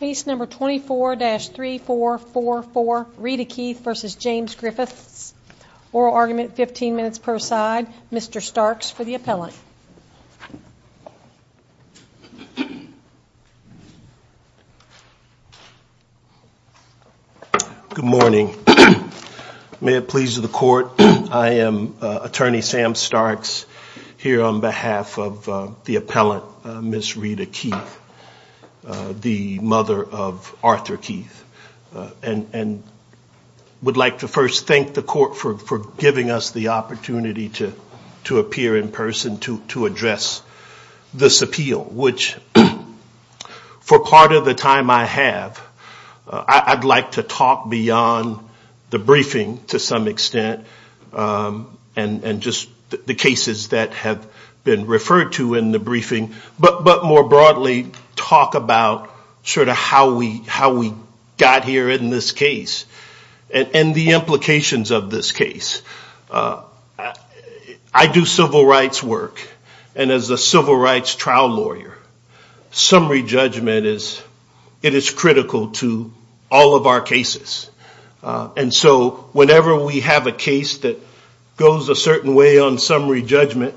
Case number 24-3444, Rita Keith v. James Griffiths. Oral argument, 15 minutes per side. Mr. Starks for the appellant. Good morning. May it please the court, I am attorney Sam Starks here on behalf of the appellant, Miss Rita Keith. The mother of Arthur Keith. And would like to first thank the court for giving us the opportunity to appear in person to address this appeal. Which for part of the time I have, I'd like to talk beyond the briefing to some extent. And just the cases that have been referred to in the briefing. But more broadly, talk about sort of how we got here in this case. And the implications of this case. I do civil rights work. And as a civil rights trial lawyer, summary judgment is critical to all of our cases. And so whenever we have a case that goes a certain way on summary judgment,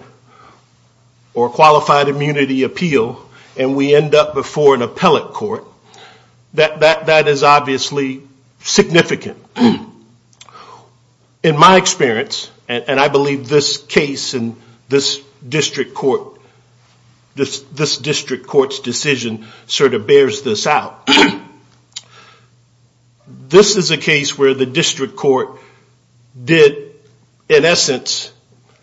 or qualified immunity appeal, and we end up before an appellate court, that is obviously significant. In my experience, and I believe this case and this district court's decision sort of bears this out. This is a case where the district court did, in essence,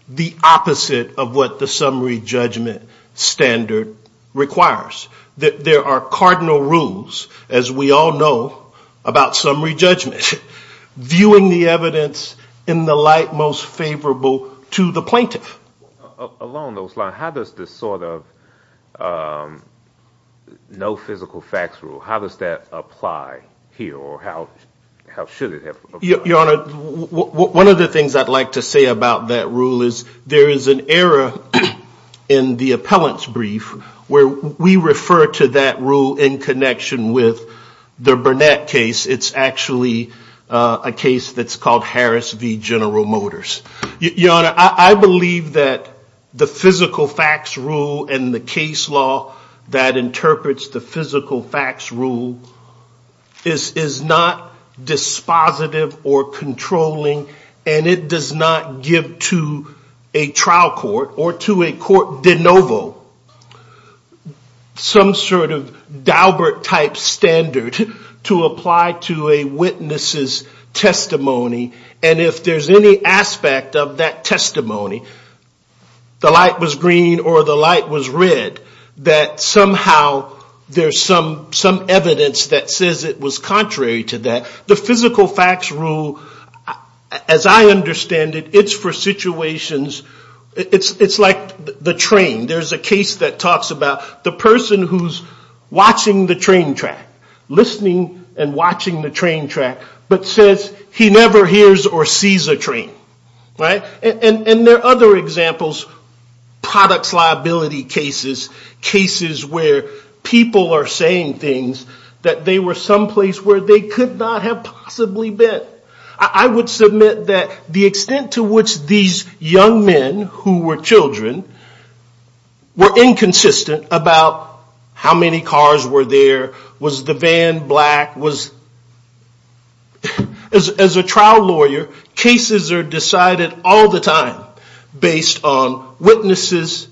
the opposite of what the summary judgment standard requires. There are cardinal rules, as we all know, about summary judgment. Viewing the evidence in the light most favorable to the plaintiff. Along those lines, how does this sort of no physical facts rule, how does that apply here? Or how should it apply? Your Honor, one of the things I'd like to say about that rule is there is an error in the appellant's brief where we refer to that rule in connection with the Burnett case. It's actually a case that's called Harris v. General Motors. Your Honor, I believe that the physical facts rule and the case law that interprets the physical facts rule is not dispositive or controlling, and it does not give to a trial court or to a court de novo some sort of Daubert type standard to apply to a witness's testimony. And if there's any aspect of that testimony, the light was green or the light was red, that somehow there's some evidence that says it was contrary to that. The physical facts rule, as I understand it, it's for situations, it's like the train. There's a case that talks about the person who's watching the train track, listening and watching the train track, but says he never hears or sees a train. And there are other examples, products liability cases, cases where people are saying things that they were someplace where they could not have possibly been. I would submit that the extent to which these young men who were children were inconsistent about how many cars were there, was the van black, as a trial lawyer, cases are decided all the time based on witnesses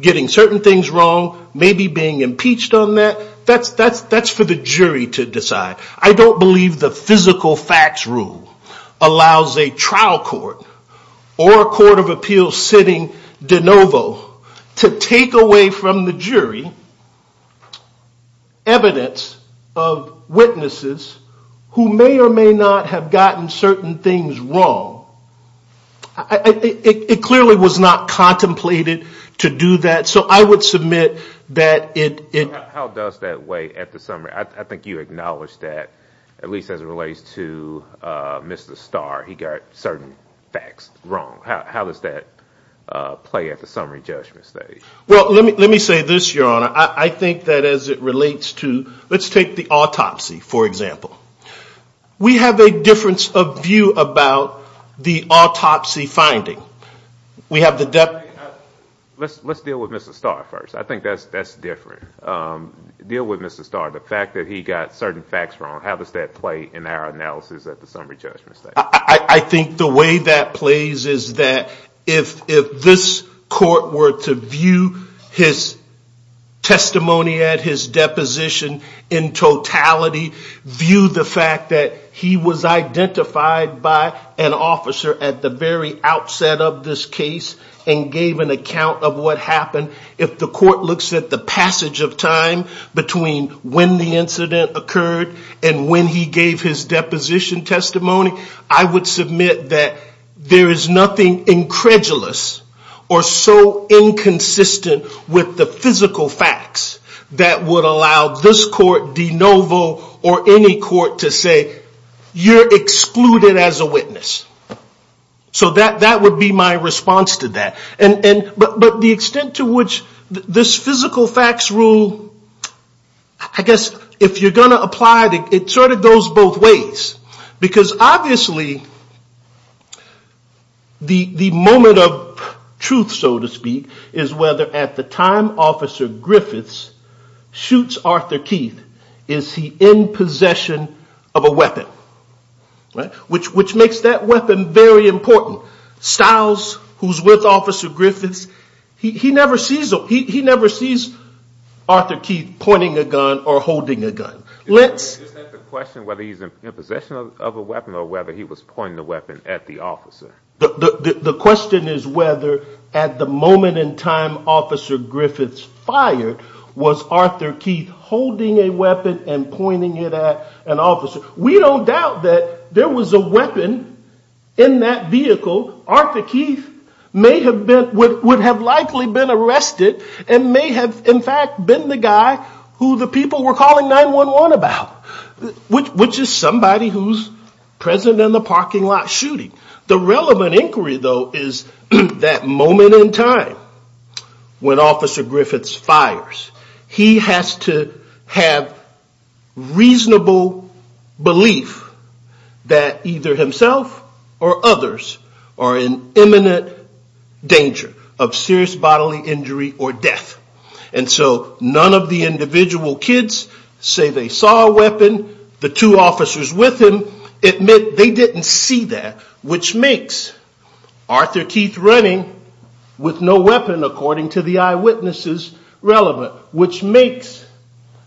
getting certain things wrong, maybe being impeached on that. That's for the jury to decide. I don't believe the physical facts rule allows a trial court or a court of appeals sitting de novo to take away from the jury evidence of witnesses who may or may not have gotten certain things wrong. It clearly was not contemplated to do that, so I would submit that it... How does that weigh at the summary? I think you acknowledged that, at least as it relates to Mr. Starr, he got certain facts wrong. How does that play at the summary judgment stage? Well, let me say this, your honor. I think that as it relates to, let's take the autopsy, for example. We have a difference of view about the autopsy finding. We have the... Let's deal with Mr. Starr first. I think that's different. Deal with Mr. Starr. The fact that he got certain facts wrong, how does that play in our analysis at the summary judgment stage? I think the way that plays is that if this court were to view his testimony at his deposition in totality, view the fact that he was identified by an officer at the very outset of this case and gave an account of what happened. If the court looks at the passage of time between when the incident occurred and when he gave his deposition testimony, I would submit that there is nothing incredulous or so inconsistent with the physical facts that would allow this court, de novo, or any court to say, you're excluded as a witness. So that would be my response to that. But the extent to which this physical facts rule, I guess if you're going to apply it, it sort of goes both ways. Because obviously the moment of truth, so to speak, is whether at the time Officer Griffiths shoots Arthur Keith, is he in possession of a weapon? Which makes that weapon very important. Stiles, who's with Officer Griffiths, he never sees Arthur Keith pointing a gun or holding a gun. Is that the question, whether he's in possession of a weapon or whether he was pointing the weapon at the officer? The question is whether at the moment in time Officer Griffiths fired, was Arthur Keith holding a weapon and pointing it at an officer? We don't doubt that there was a weapon in that vehicle. Arthur Keith would have likely been arrested and may have in fact been the guy who the people were calling 911 about, which is somebody who's present in the parking lot shooting. The relevant inquiry though is that moment in time when Officer Griffiths fires, he has to have reasonable belief that either himself or others are in imminent danger of serious bodily injury or death. And so none of the individual kids say they saw a weapon. The two officers with him admit they didn't see that, which makes Arthur Keith running with no weapon, according to the eyewitnesses, relevant. Which makes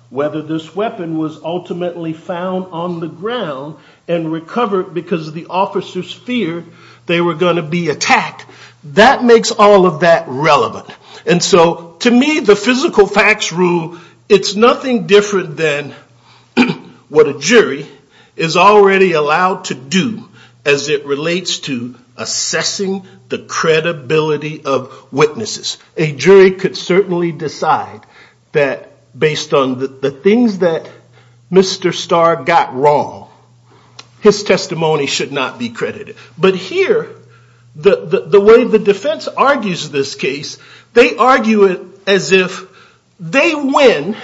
whether this weapon was ultimately found on the ground and recovered because the officers feared they were going to be attacked, that makes all of that relevant. And so to me the physical facts rule, it's nothing different than what a jury is already allowed to do as it relates to assessing the credibility of witnesses. A jury could certainly decide that based on the things that Mr. Starr got wrong, his testimony should not be credited. But here, the way the defense argues this case, they argue it as if they win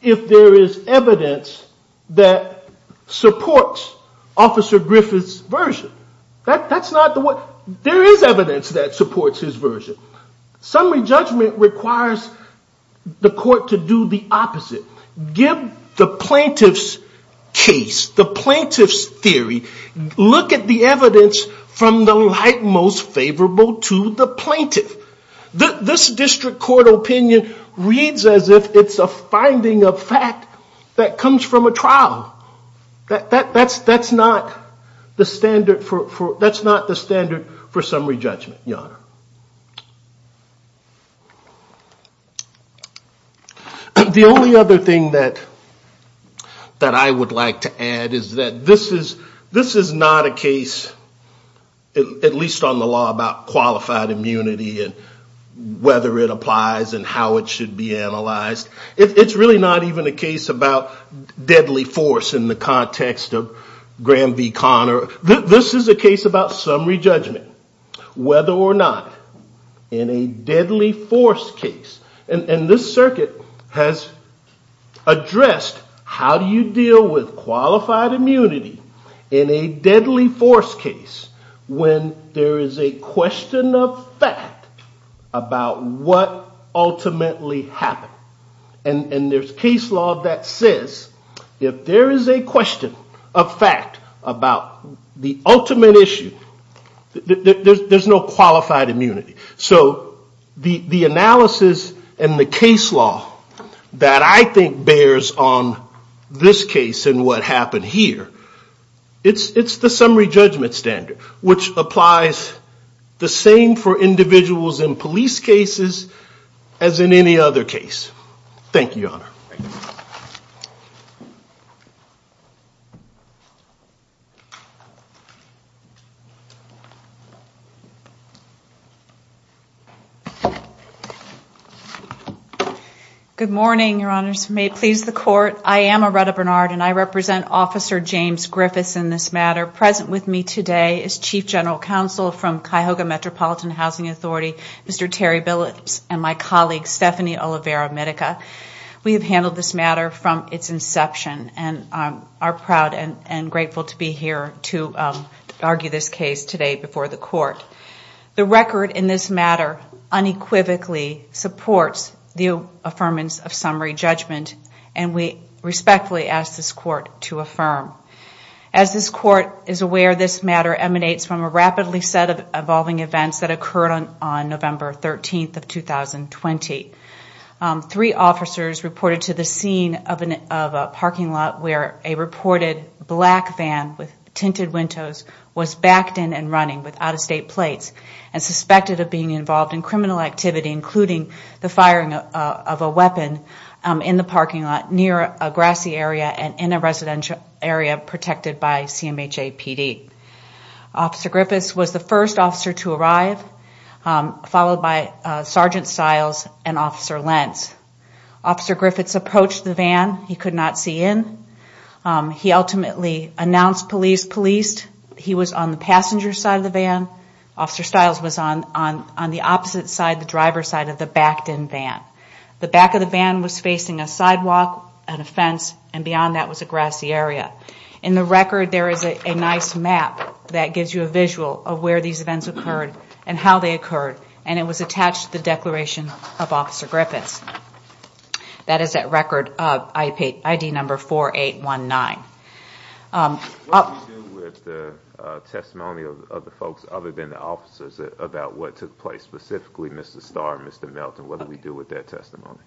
if there is evidence that supports Officer Griffiths' version. There is evidence that supports his version. Summary judgment requires the court to do the opposite. Give the plaintiff's case, the plaintiff's theory, look at the evidence from the light most favorable to the plaintiff. This district court opinion reads as if it's a finding of fact that comes from a trial. That's not the standard for summary judgment, your honor. The only other thing that I would like to add is that this is not a case, at least on the law, about qualified immunity and whether it applies and how it should be analyzed. It's really not even a case about deadly force in the context of Graham v. Conner. This is a case about summary judgment, whether or not in a deadly force case, and this circuit has addressed how do you deal with qualified immunity in a deadly force case when there is a question of fact about what ultimately happened. And there's case law that says if there is a question of fact about the ultimate issue, there's no qualified immunity. So the analysis and the case law that I think bears on this case and what happened here, it's the summary judgment standard, which applies the same for individuals in police cases as in any other case. Thank you, your honor. Good morning, your honors. May it please the court, I am Aretta Bernard and I represent Officer James Griffiths in this matter. Present with me today is Chief General Counsel from Cuyahoga Metropolitan Housing Authority, Mr. Terry Billups, and my colleague, Stephanie Olivera-Mitica. We have handled this matter from its inception and are proud and grateful to be here to argue this case today before the court. The record in this matter unequivocally supports the affirmance of summary judgment and we respectfully ask this court to affirm. As this court is aware, this matter emanates from a rapidly set of evolving events that occurred on November 13, 2020. Three officers reported to the scene of a parking lot where a reported black van with tinted windows was backed in and running with out-of-state plates and suspected of being involved in criminal activity, including the firing of a weapon in the parking lot near a grassy area and in a residential area protected by CMHA PD. Officer Griffiths was the first officer to arrive, followed by Sergeant Stiles and Officer Lentz. Officer Griffiths approached the van, he could not see in. He ultimately announced police, policed, he was on the passenger side of the van. Officer Stiles was on the opposite side, the driver's side of the backed-in van. The back of the van was facing a sidewalk and a fence and beyond that was a grassy area. In the record there is a nice map that gives you a visual of where these events occurred and how they occurred and it was attached to the declaration of Officer Griffiths. That is that record of ID number 4819. What do we do with the testimony of the folks other than the officers about what took place, specifically Mr. Starr and Mr. Melton, what do we do with that testimony?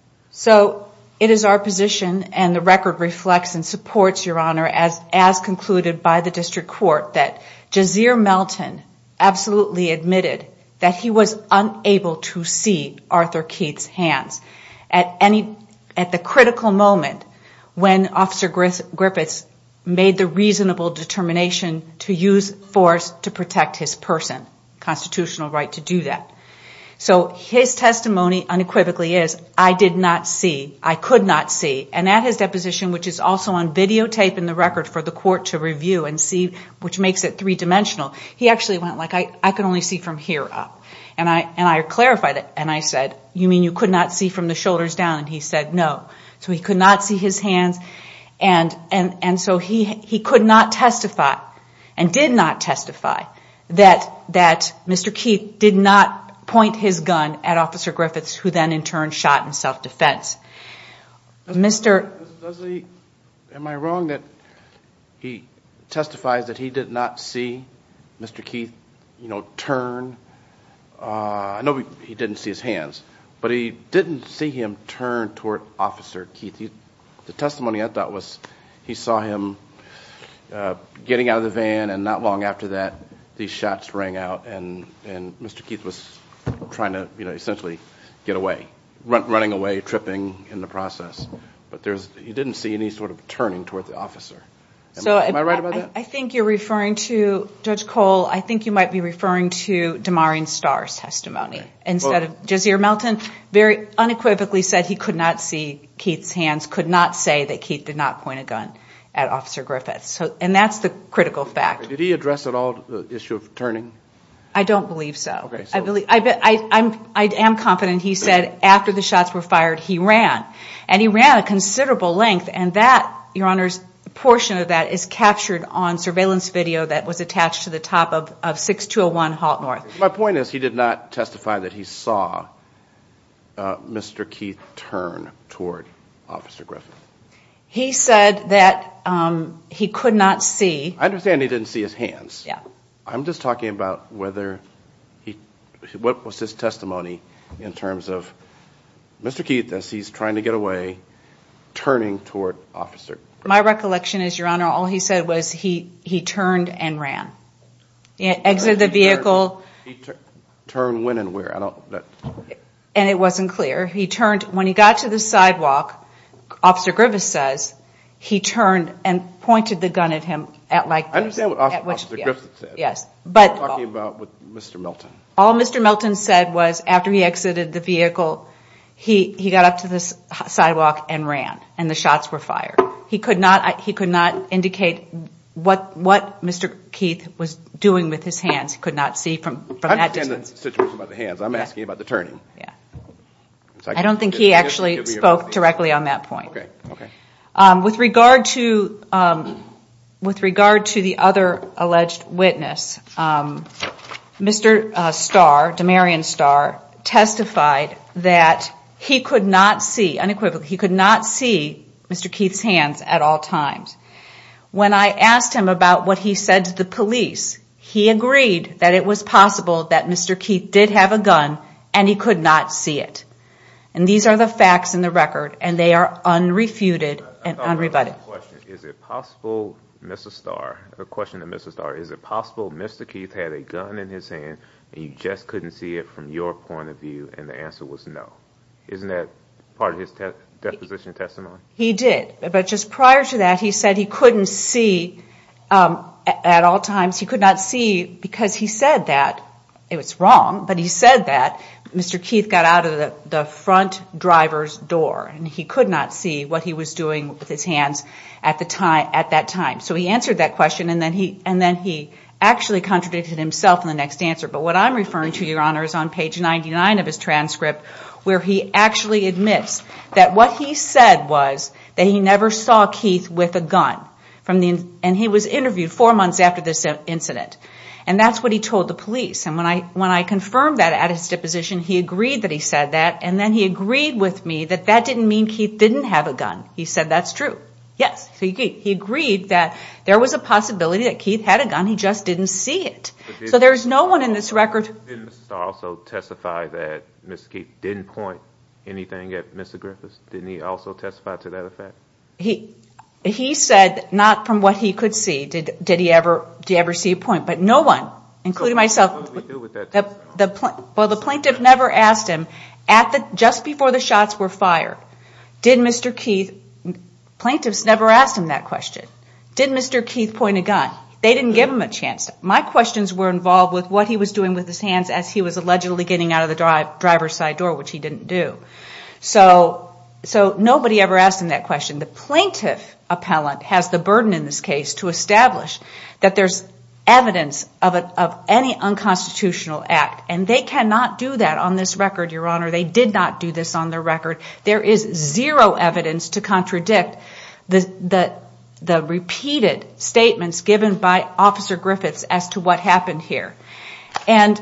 It is our position and the record reflects and supports your honor as concluded by the district court that Jazeer Melton absolutely admitted that he was unable to see Arthur Keith's hands. At the critical moment when Officer Griffiths made the reasonable determination to use force to protect his person, constitutional right to do that. His testimony unequivocally is I did not see, I could not see. At his deposition which is also on videotape in the record for the court to review and see which makes it three-dimensional, he actually went like I can only see from here up. I clarified it and I said you mean you could not see from the shoulders down and he said no. So he could not see his hands and so he could not testify and did not testify that Mr. Keith did not point his gun at Officer Griffiths who then in turn shot in self-defense. Mr. Dudley, am I wrong that he testifies that he did not see Mr. Keith turn, I know he did not see his hands, but he did not see him turn toward Officer Keith. The testimony I thought was he saw him getting out of the van and not long after that these shots rang out and Mr. Keith was trying to essentially get away, running away, tripping in the process. But he did not see any sort of turning toward the officer. Am I right about that? I think you are referring to, Judge Cole, I think you might be referring to Damarion Starr's testimony instead of Jazir Melton. Very unequivocally said he could not see Keith's hands, could not say that Keith did not point a gun at Officer Griffiths. And that is the critical fact. Did he address at all the issue of turning? I don't believe so. I am confident he said after the shots were fired he ran. And he ran a considerable length and that, your honors, a portion of that is captured on surveillance video that was attached to the top of 6201 Halt North. My point is he did not testify that he saw Mr. Keith turn toward Officer Griffiths. He said that he could not see. I understand he did not see his hands. I am just talking about what was his testimony in terms of Mr. Keith as he is trying to get away turning toward Officer Griffiths. My recollection is, your honor, all he said was he turned and ran. Exited the vehicle. Turned when and where? And it wasn't clear. When he got to the sidewalk, Officer Griffiths says he turned and pointed the gun at him. I understand what Officer Griffiths said. I am talking about Mr. Milton. All Mr. Milton said was after he exited the vehicle, he got up to the sidewalk and ran. And the shots were fired. He could not indicate what Mr. Keith was doing with his hands. He could not see from that distance. I understand the situation about the hands. I am asking about the turning. I don't think he actually spoke directly on that point. With regard to the other alleged witness, Mr. Starr, Damarian Starr, testified that he could not see Mr. Keith's hands at all times. When I asked him about what he said to the police, he agreed that it was possible that Mr. Keith did have a gun and he could not see it. And these are the facts in the record, and they are unrefuted and unrebutted. Is it possible, Mr. Starr, Mr. Keith had a gun in his hand and you just couldn't see it from your point of view, and the answer was no? Isn't that part of his deposition testimony? He did. But just prior to that, he said he couldn't see at all times. He could not see because he said that. It was wrong, but he said that. Mr. Keith got out of the front driver's door, and he could not see what he was doing with his hands at that time. So he answered that question, and then he actually contradicted himself in the next answer. But what I'm referring to, Your Honor, is on page 99 of his transcript where he actually admits that what he said was that he never saw Keith with a gun. And he was interviewed four months after this incident. And that's what he told the police. And when I confirmed that at his deposition, he agreed that he said that, and then he agreed with me that that didn't mean Keith didn't have a gun. He said that's true. Yes, he agreed that there was a possibility that Keith had a gun. He just didn't see it. So there's no one in this record. Didn't Mr. Starr also testify that Mr. Keith didn't point anything at Mr. Griffiths? Didn't he also testify to that effect? He said not from what he could see. Did he ever see a point? But no one, including myself, the plaintiff never asked him just before the shots were fired, did Mr. Keith, plaintiffs never asked him that question. Did Mr. Keith point a gun? They didn't give him a chance. My questions were involved with what he was doing with his hands as he was allegedly getting out of the driver's side door, which he didn't do. So nobody ever asked him that question. The plaintiff appellant has the burden in this case to establish that there's evidence of any unconstitutional act. And they cannot do that on this record, Your Honor. They did not do this on the record. There is zero evidence to contradict the repeated statements given by Officer Griffiths as to what happened here. And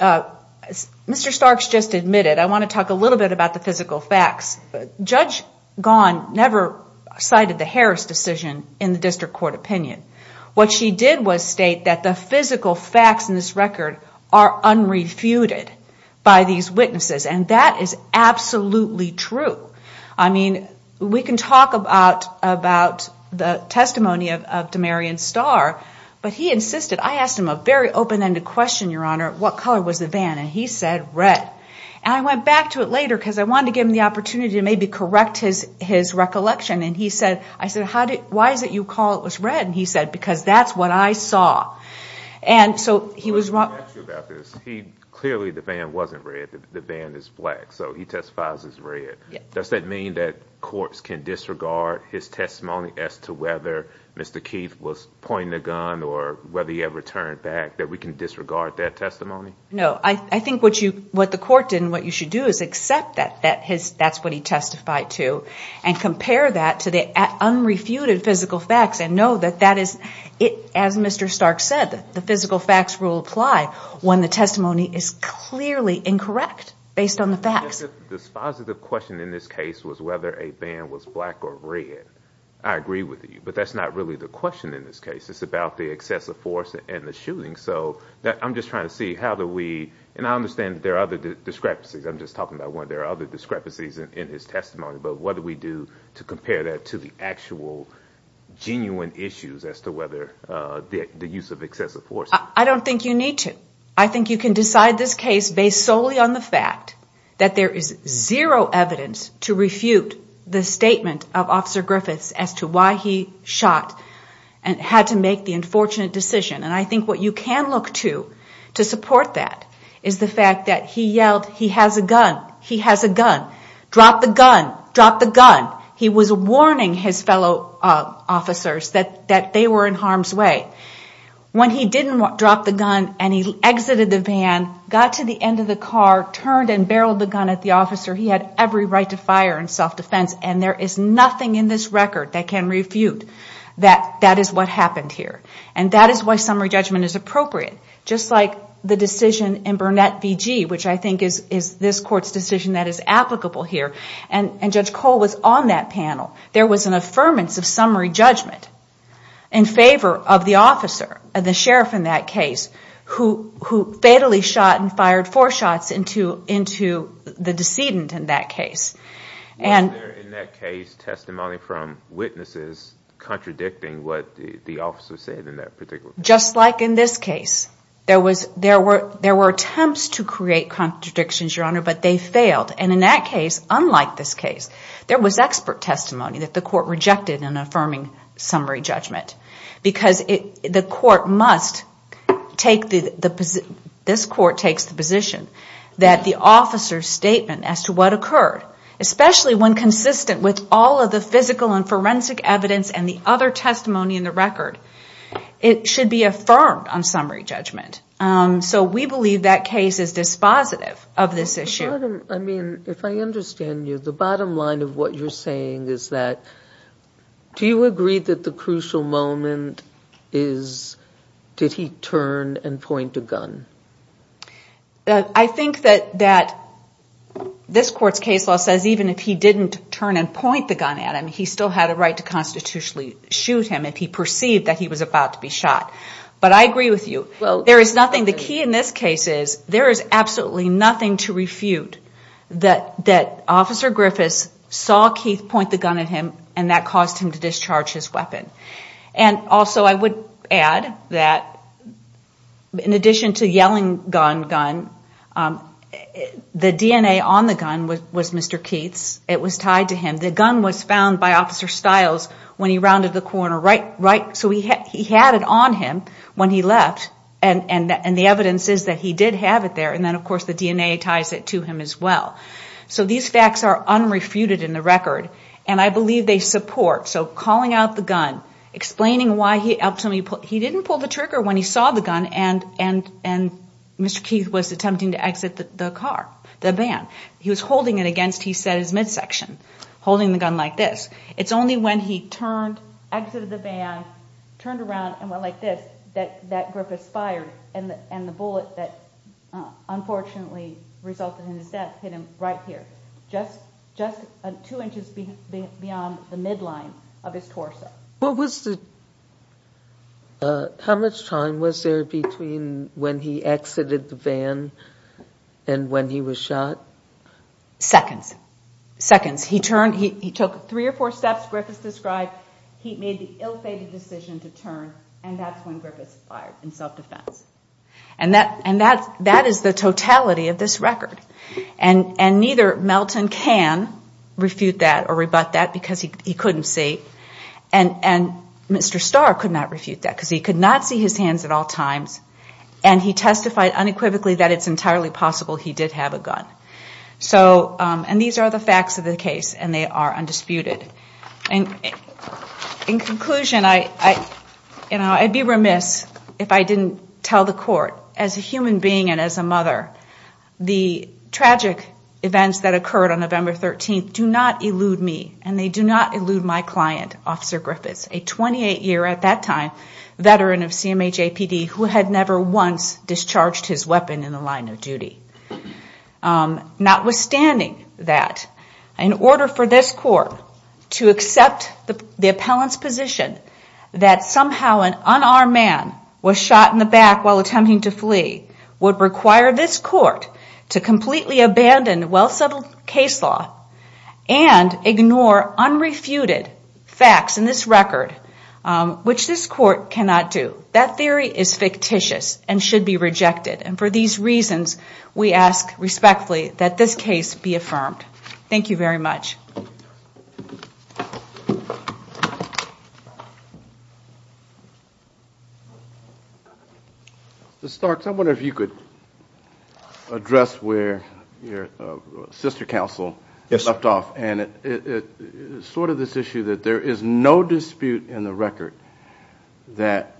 Mr. Starks just admitted, I want to talk a little bit about the physical facts. Judge Gaughan never cited the Harris decision in the district court opinion. What she did was state that the physical facts in this record are unrefuted by these witnesses. And that is absolutely true. I mean, we can talk about the testimony of Damarian Starr. But he insisted, I asked him a very open-ended question, Your Honor, what color was the van? And he said red. And I went back to it later because I wanted to give him the opportunity to maybe correct his recollection. And he said, I said, why is it you call it was red? And he said, because that's what I saw. And so he was wrong. Let me ask you about this. Clearly the van wasn't red. The van is black. So he testifies as red. Does that mean that courts can disregard his testimony as to whether Mr. Keith was pointing a gun or whether he ever turned back, that we can disregard that testimony? No. I think what the court did and what you should do is accept that that's what he testified to and compare that to the unrefuted physical facts and know that that is, as Mr. Stark said, the physical facts will apply when the testimony is clearly incorrect based on the facts. This positive question in this case was whether a van was black or red. I agree with you. But that's not really the question in this case. It's about the excessive force and the shooting. So I'm just trying to see how do we and I understand there are other discrepancies. I'm just talking about one. There are other discrepancies in his testimony. But what do we do to compare that to the actual genuine issues as to whether the use of excessive force? I don't think you need to. I think you can decide this case based solely on the fact that there is zero evidence to refute the statement of Officer Griffiths as to why he shot and had to make the unfortunate decision. And I think what you can look to to support that is the fact that he yelled, he has a gun, he has a gun, drop the gun, drop the gun. He was warning his fellow officers that they were in harm's way. When he didn't drop the gun and he exited the van, got to the end of the car, turned and barreled the gun at the officer, he had every right to fire in self-defense. And there is nothing in this record that can refute that that is what happened here. And that is why summary judgment is appropriate. Just like the decision in Burnett v. G., which I think is this court's decision that is applicable here. And Judge Cole was on that panel. There was an affirmance of summary judgment in favor of the officer, the sheriff in that case, who fatally shot and fired four shots into the decedent in that case. Was there in that case testimony from witnesses contradicting what the officer said in that particular case? Just like in this case. There were attempts to create contradictions, Your Honor, but they failed. And in that case, unlike this case, there was expert testimony that the court rejected in affirming summary judgment. Because this court takes the position that the officer's statement as to what occurred, especially when consistent with all of the physical and forensic evidence and the other testimony in the record, it should be affirmed on summary judgment. So we believe that case is dispositive of this issue. If I understand you, the bottom line of what you're saying is that, do you agree that the crucial moment is, did he turn and point a gun? I think that this court's case law says even if he didn't turn and point the gun at him, he still had a right to constitutionally shoot him if he perceived that he was about to be shot. But I agree with you. There is nothing, the key in this case is, there is absolutely nothing to refute that Officer Griffiths saw Keith point the gun at him and that caused him to discharge his weapon. And also I would add that in addition to yelling gun, gun, the DNA on the gun was Mr. Keith's. It was tied to him. The gun was found by Officer Stiles when he rounded the corner. So he had it on him when he left and the evidence is that he did have it there and then of course the DNA ties it to him as well. So these facts are unrefuted in the record. And I believe they support, so calling out the gun, explaining why he didn't pull the trigger when he saw the gun and Mr. Keith was attempting to exit the car, the van. He was holding it against, he said, his midsection. Holding the gun like this. It's only when he turned, exited the van, turned around and went like this that Griffiths fired and the bullet that unfortunately resulted in his death hit him right here. Just two inches beyond the midline of his torso. How much time was there between when he exited the van and when he was shot? Seconds. He took three or four steps Griffiths described. He made the ill-fated decision to turn and that's when Griffiths fired in self-defense. And that is the totality of this record. And neither Melton can refute that or rebut that because he couldn't see. And Mr. Starr could not refute that because he could not see his hands at all times and he testified unequivocally that it's entirely possible he did have a gun. And these are the facts of the case and they are undisputed. In conclusion, I'd be remiss if I didn't tell the court, as a human being and as a mother, the tragic events that occurred on November 13th do not elude me and they do not elude my client, Officer Griffiths, a 28-year, at that time, veteran of CMHAPD who had never once discharged his weapon in the line of duty. Notwithstanding that, in order for this court to accept the appellant's position that somehow an unarmed man was shot in the back while attempting to flee would require this court to completely abandon well-settled case law and ignore unrefuted facts in this record, which this court cannot do. That theory is fictitious and should be rejected. And for these reasons, we ask respectfully that this case be affirmed. Thank you very much. Mr. Starks, I wonder if you could address where your sister counsel left off and sort of this issue that there is no dispute in the record that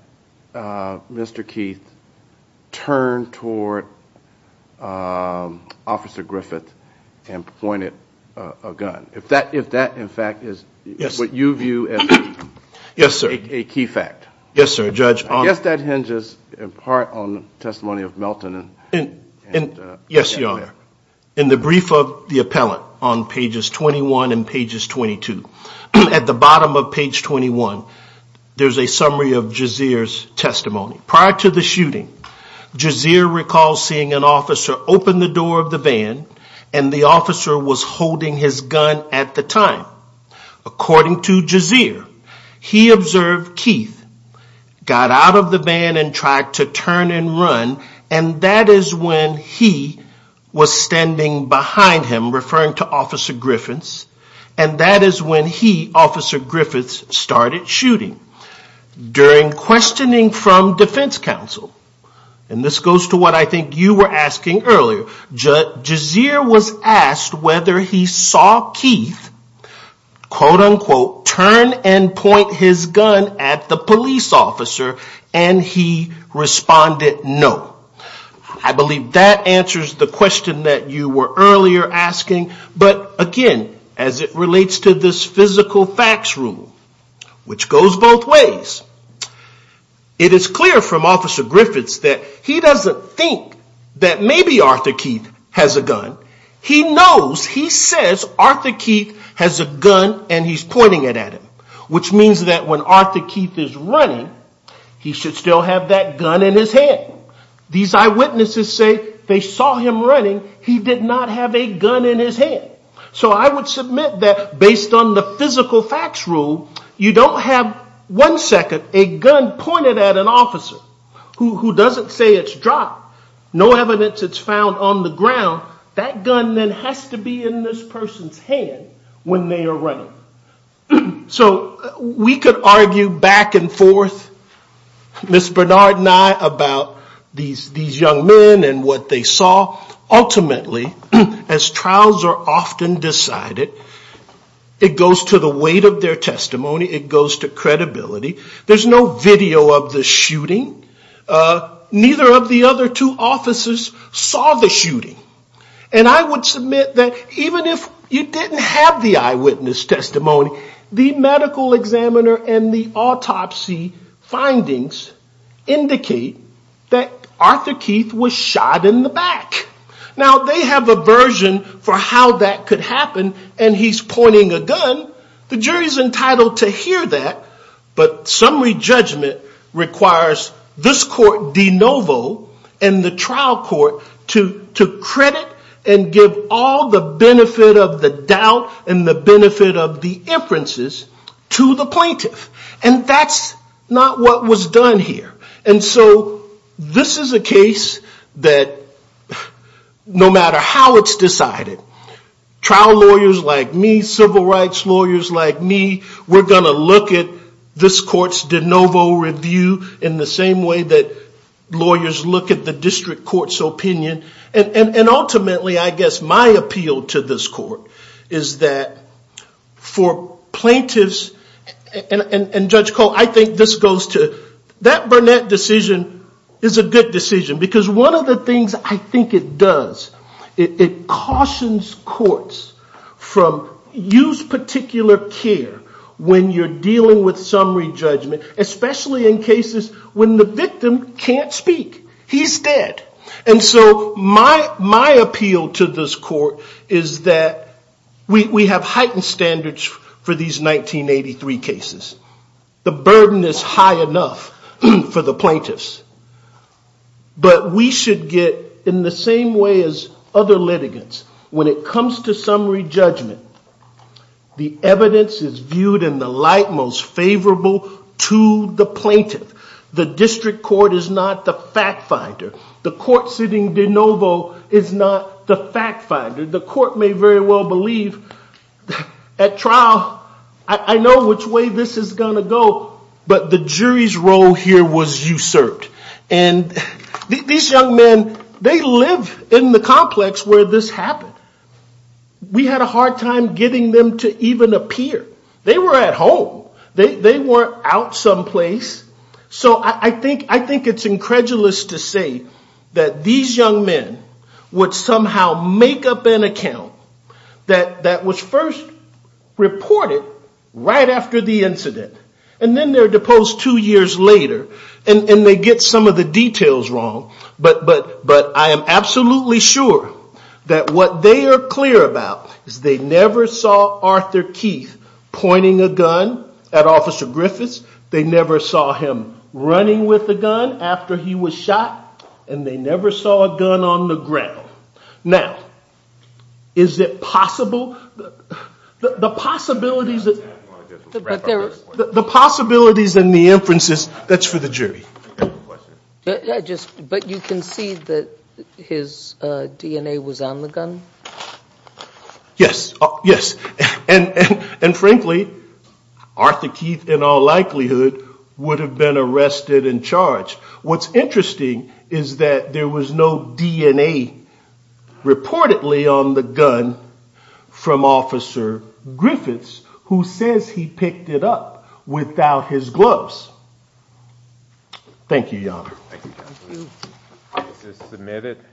Mr. Keith turned toward Officer Griffith and pointed a gun. If that, in fact, is what you view as a key fact. Yes, sir, Judge. I guess that hinges in part on the testimony of Melton. Yes, Your Honor. In the brief of the appellant on pages 21 and pages 22. At the bottom of page 21, there's a summary of Jazir's testimony. Prior to the shooting, Jazir recalls seeing an officer open the door of the van and the officer was holding his gun at the time. According to Jazir, he observed Keith got out of the van and tried to turn and run and that is when he was standing behind him, referring to Officer Griffiths, and that is when he, Officer Griffiths, started shooting. During questioning from defense counsel, and this goes to what I think you were asking earlier, Jazir was asked whether he saw Keith, quote unquote, turn and point his gun at the police officer and he responded no. I believe that answers the question that you were earlier asking, but again, as it relates to this physical facts rule, which goes both ways, it is clear from Officer Griffiths that he doesn't think that maybe Arthur Keith has a gun. He knows, he says, Arthur Keith has a gun and he's pointing it at him, which means that when Arthur Keith is running, he should still have that These eyewitnesses say they saw him running. He did not have a gun in his hand. So I would submit that based on the physical facts rule, you don't have one second a gun pointed at an officer who doesn't say it's dropped, no evidence it's found on the ground, that gun then has to be in this person's hand when they are running. So we could argue back and forth, Ms. Bernard and I, about these young men and what they saw. Ultimately, as trials are often decided, it goes to the weight of their testimony, it goes to credibility. There's no video of the shooting. Neither of the other two officers saw the shooting. I would submit that even if you didn't have the eyewitness testimony, the medical examiner and the autopsy findings indicate that Arthur Keith was shot in the back. Now they have a version for how that could happen and he's pointing a gun. The jury's entitled to hear that, but summary judgment requires this court de novo and the trial court to credit and give all the benefit of the doubt and the benefit of the inferences to the plaintiff. And that's not what was done here. And so this is a case that no matter how it's decided, trial lawyers like me, civil rights lawyers like me, we're going to look at this court's de novo review in the same way that lawyers look at the district court's opinion. And ultimately, I guess my appeal to this court is that for plaintiffs and Judge Cole, I think this goes to, that Burnett decision is a good decision. Because one of the things I think it does, it cautions courts from use particular care when you're dealing with summary judgment, especially in cases when the victim can't speak. He's dead. And so my appeal to this court is that we have heightened standards for these 1983 cases. The burden is high enough for the plaintiffs. But we should get, in the same way as other litigants, when it comes to summary judgment, the evidence is viewed in the light most favorable to the plaintiff. The district court is not the fact finder. The court sitting de novo is not the fact finder. The court may very well believe at trial, I know which way this is going to go, but the jury's role here was usurped. And these young men, they live in the complex where this happened. We had a hard time getting them to even appear. They were at home. They weren't out someplace. So I think it's incredulous to say that these young men would somehow make up an account that was first reported right after the incident. And then they're deposed two years later. And they get some of the details wrong. But I am absolutely sure that what they are clear about is they never saw Arthur Keith pointing a gun at Officer Griffiths. They never saw him running with a gun after he was shot. And they never saw a gun on the ground. Now, is it possible, the possibilities and the inferences, that's for the jury. But you can see that his DNA was on the gun? Yes. Yes. And frankly, Arthur Keith in all likelihood would have been arrested and charged. What's interesting is that there was no DNA reportedly on the gun from Officer Griffiths, who says he picked it up without his gloves. Thank you, Your Honor.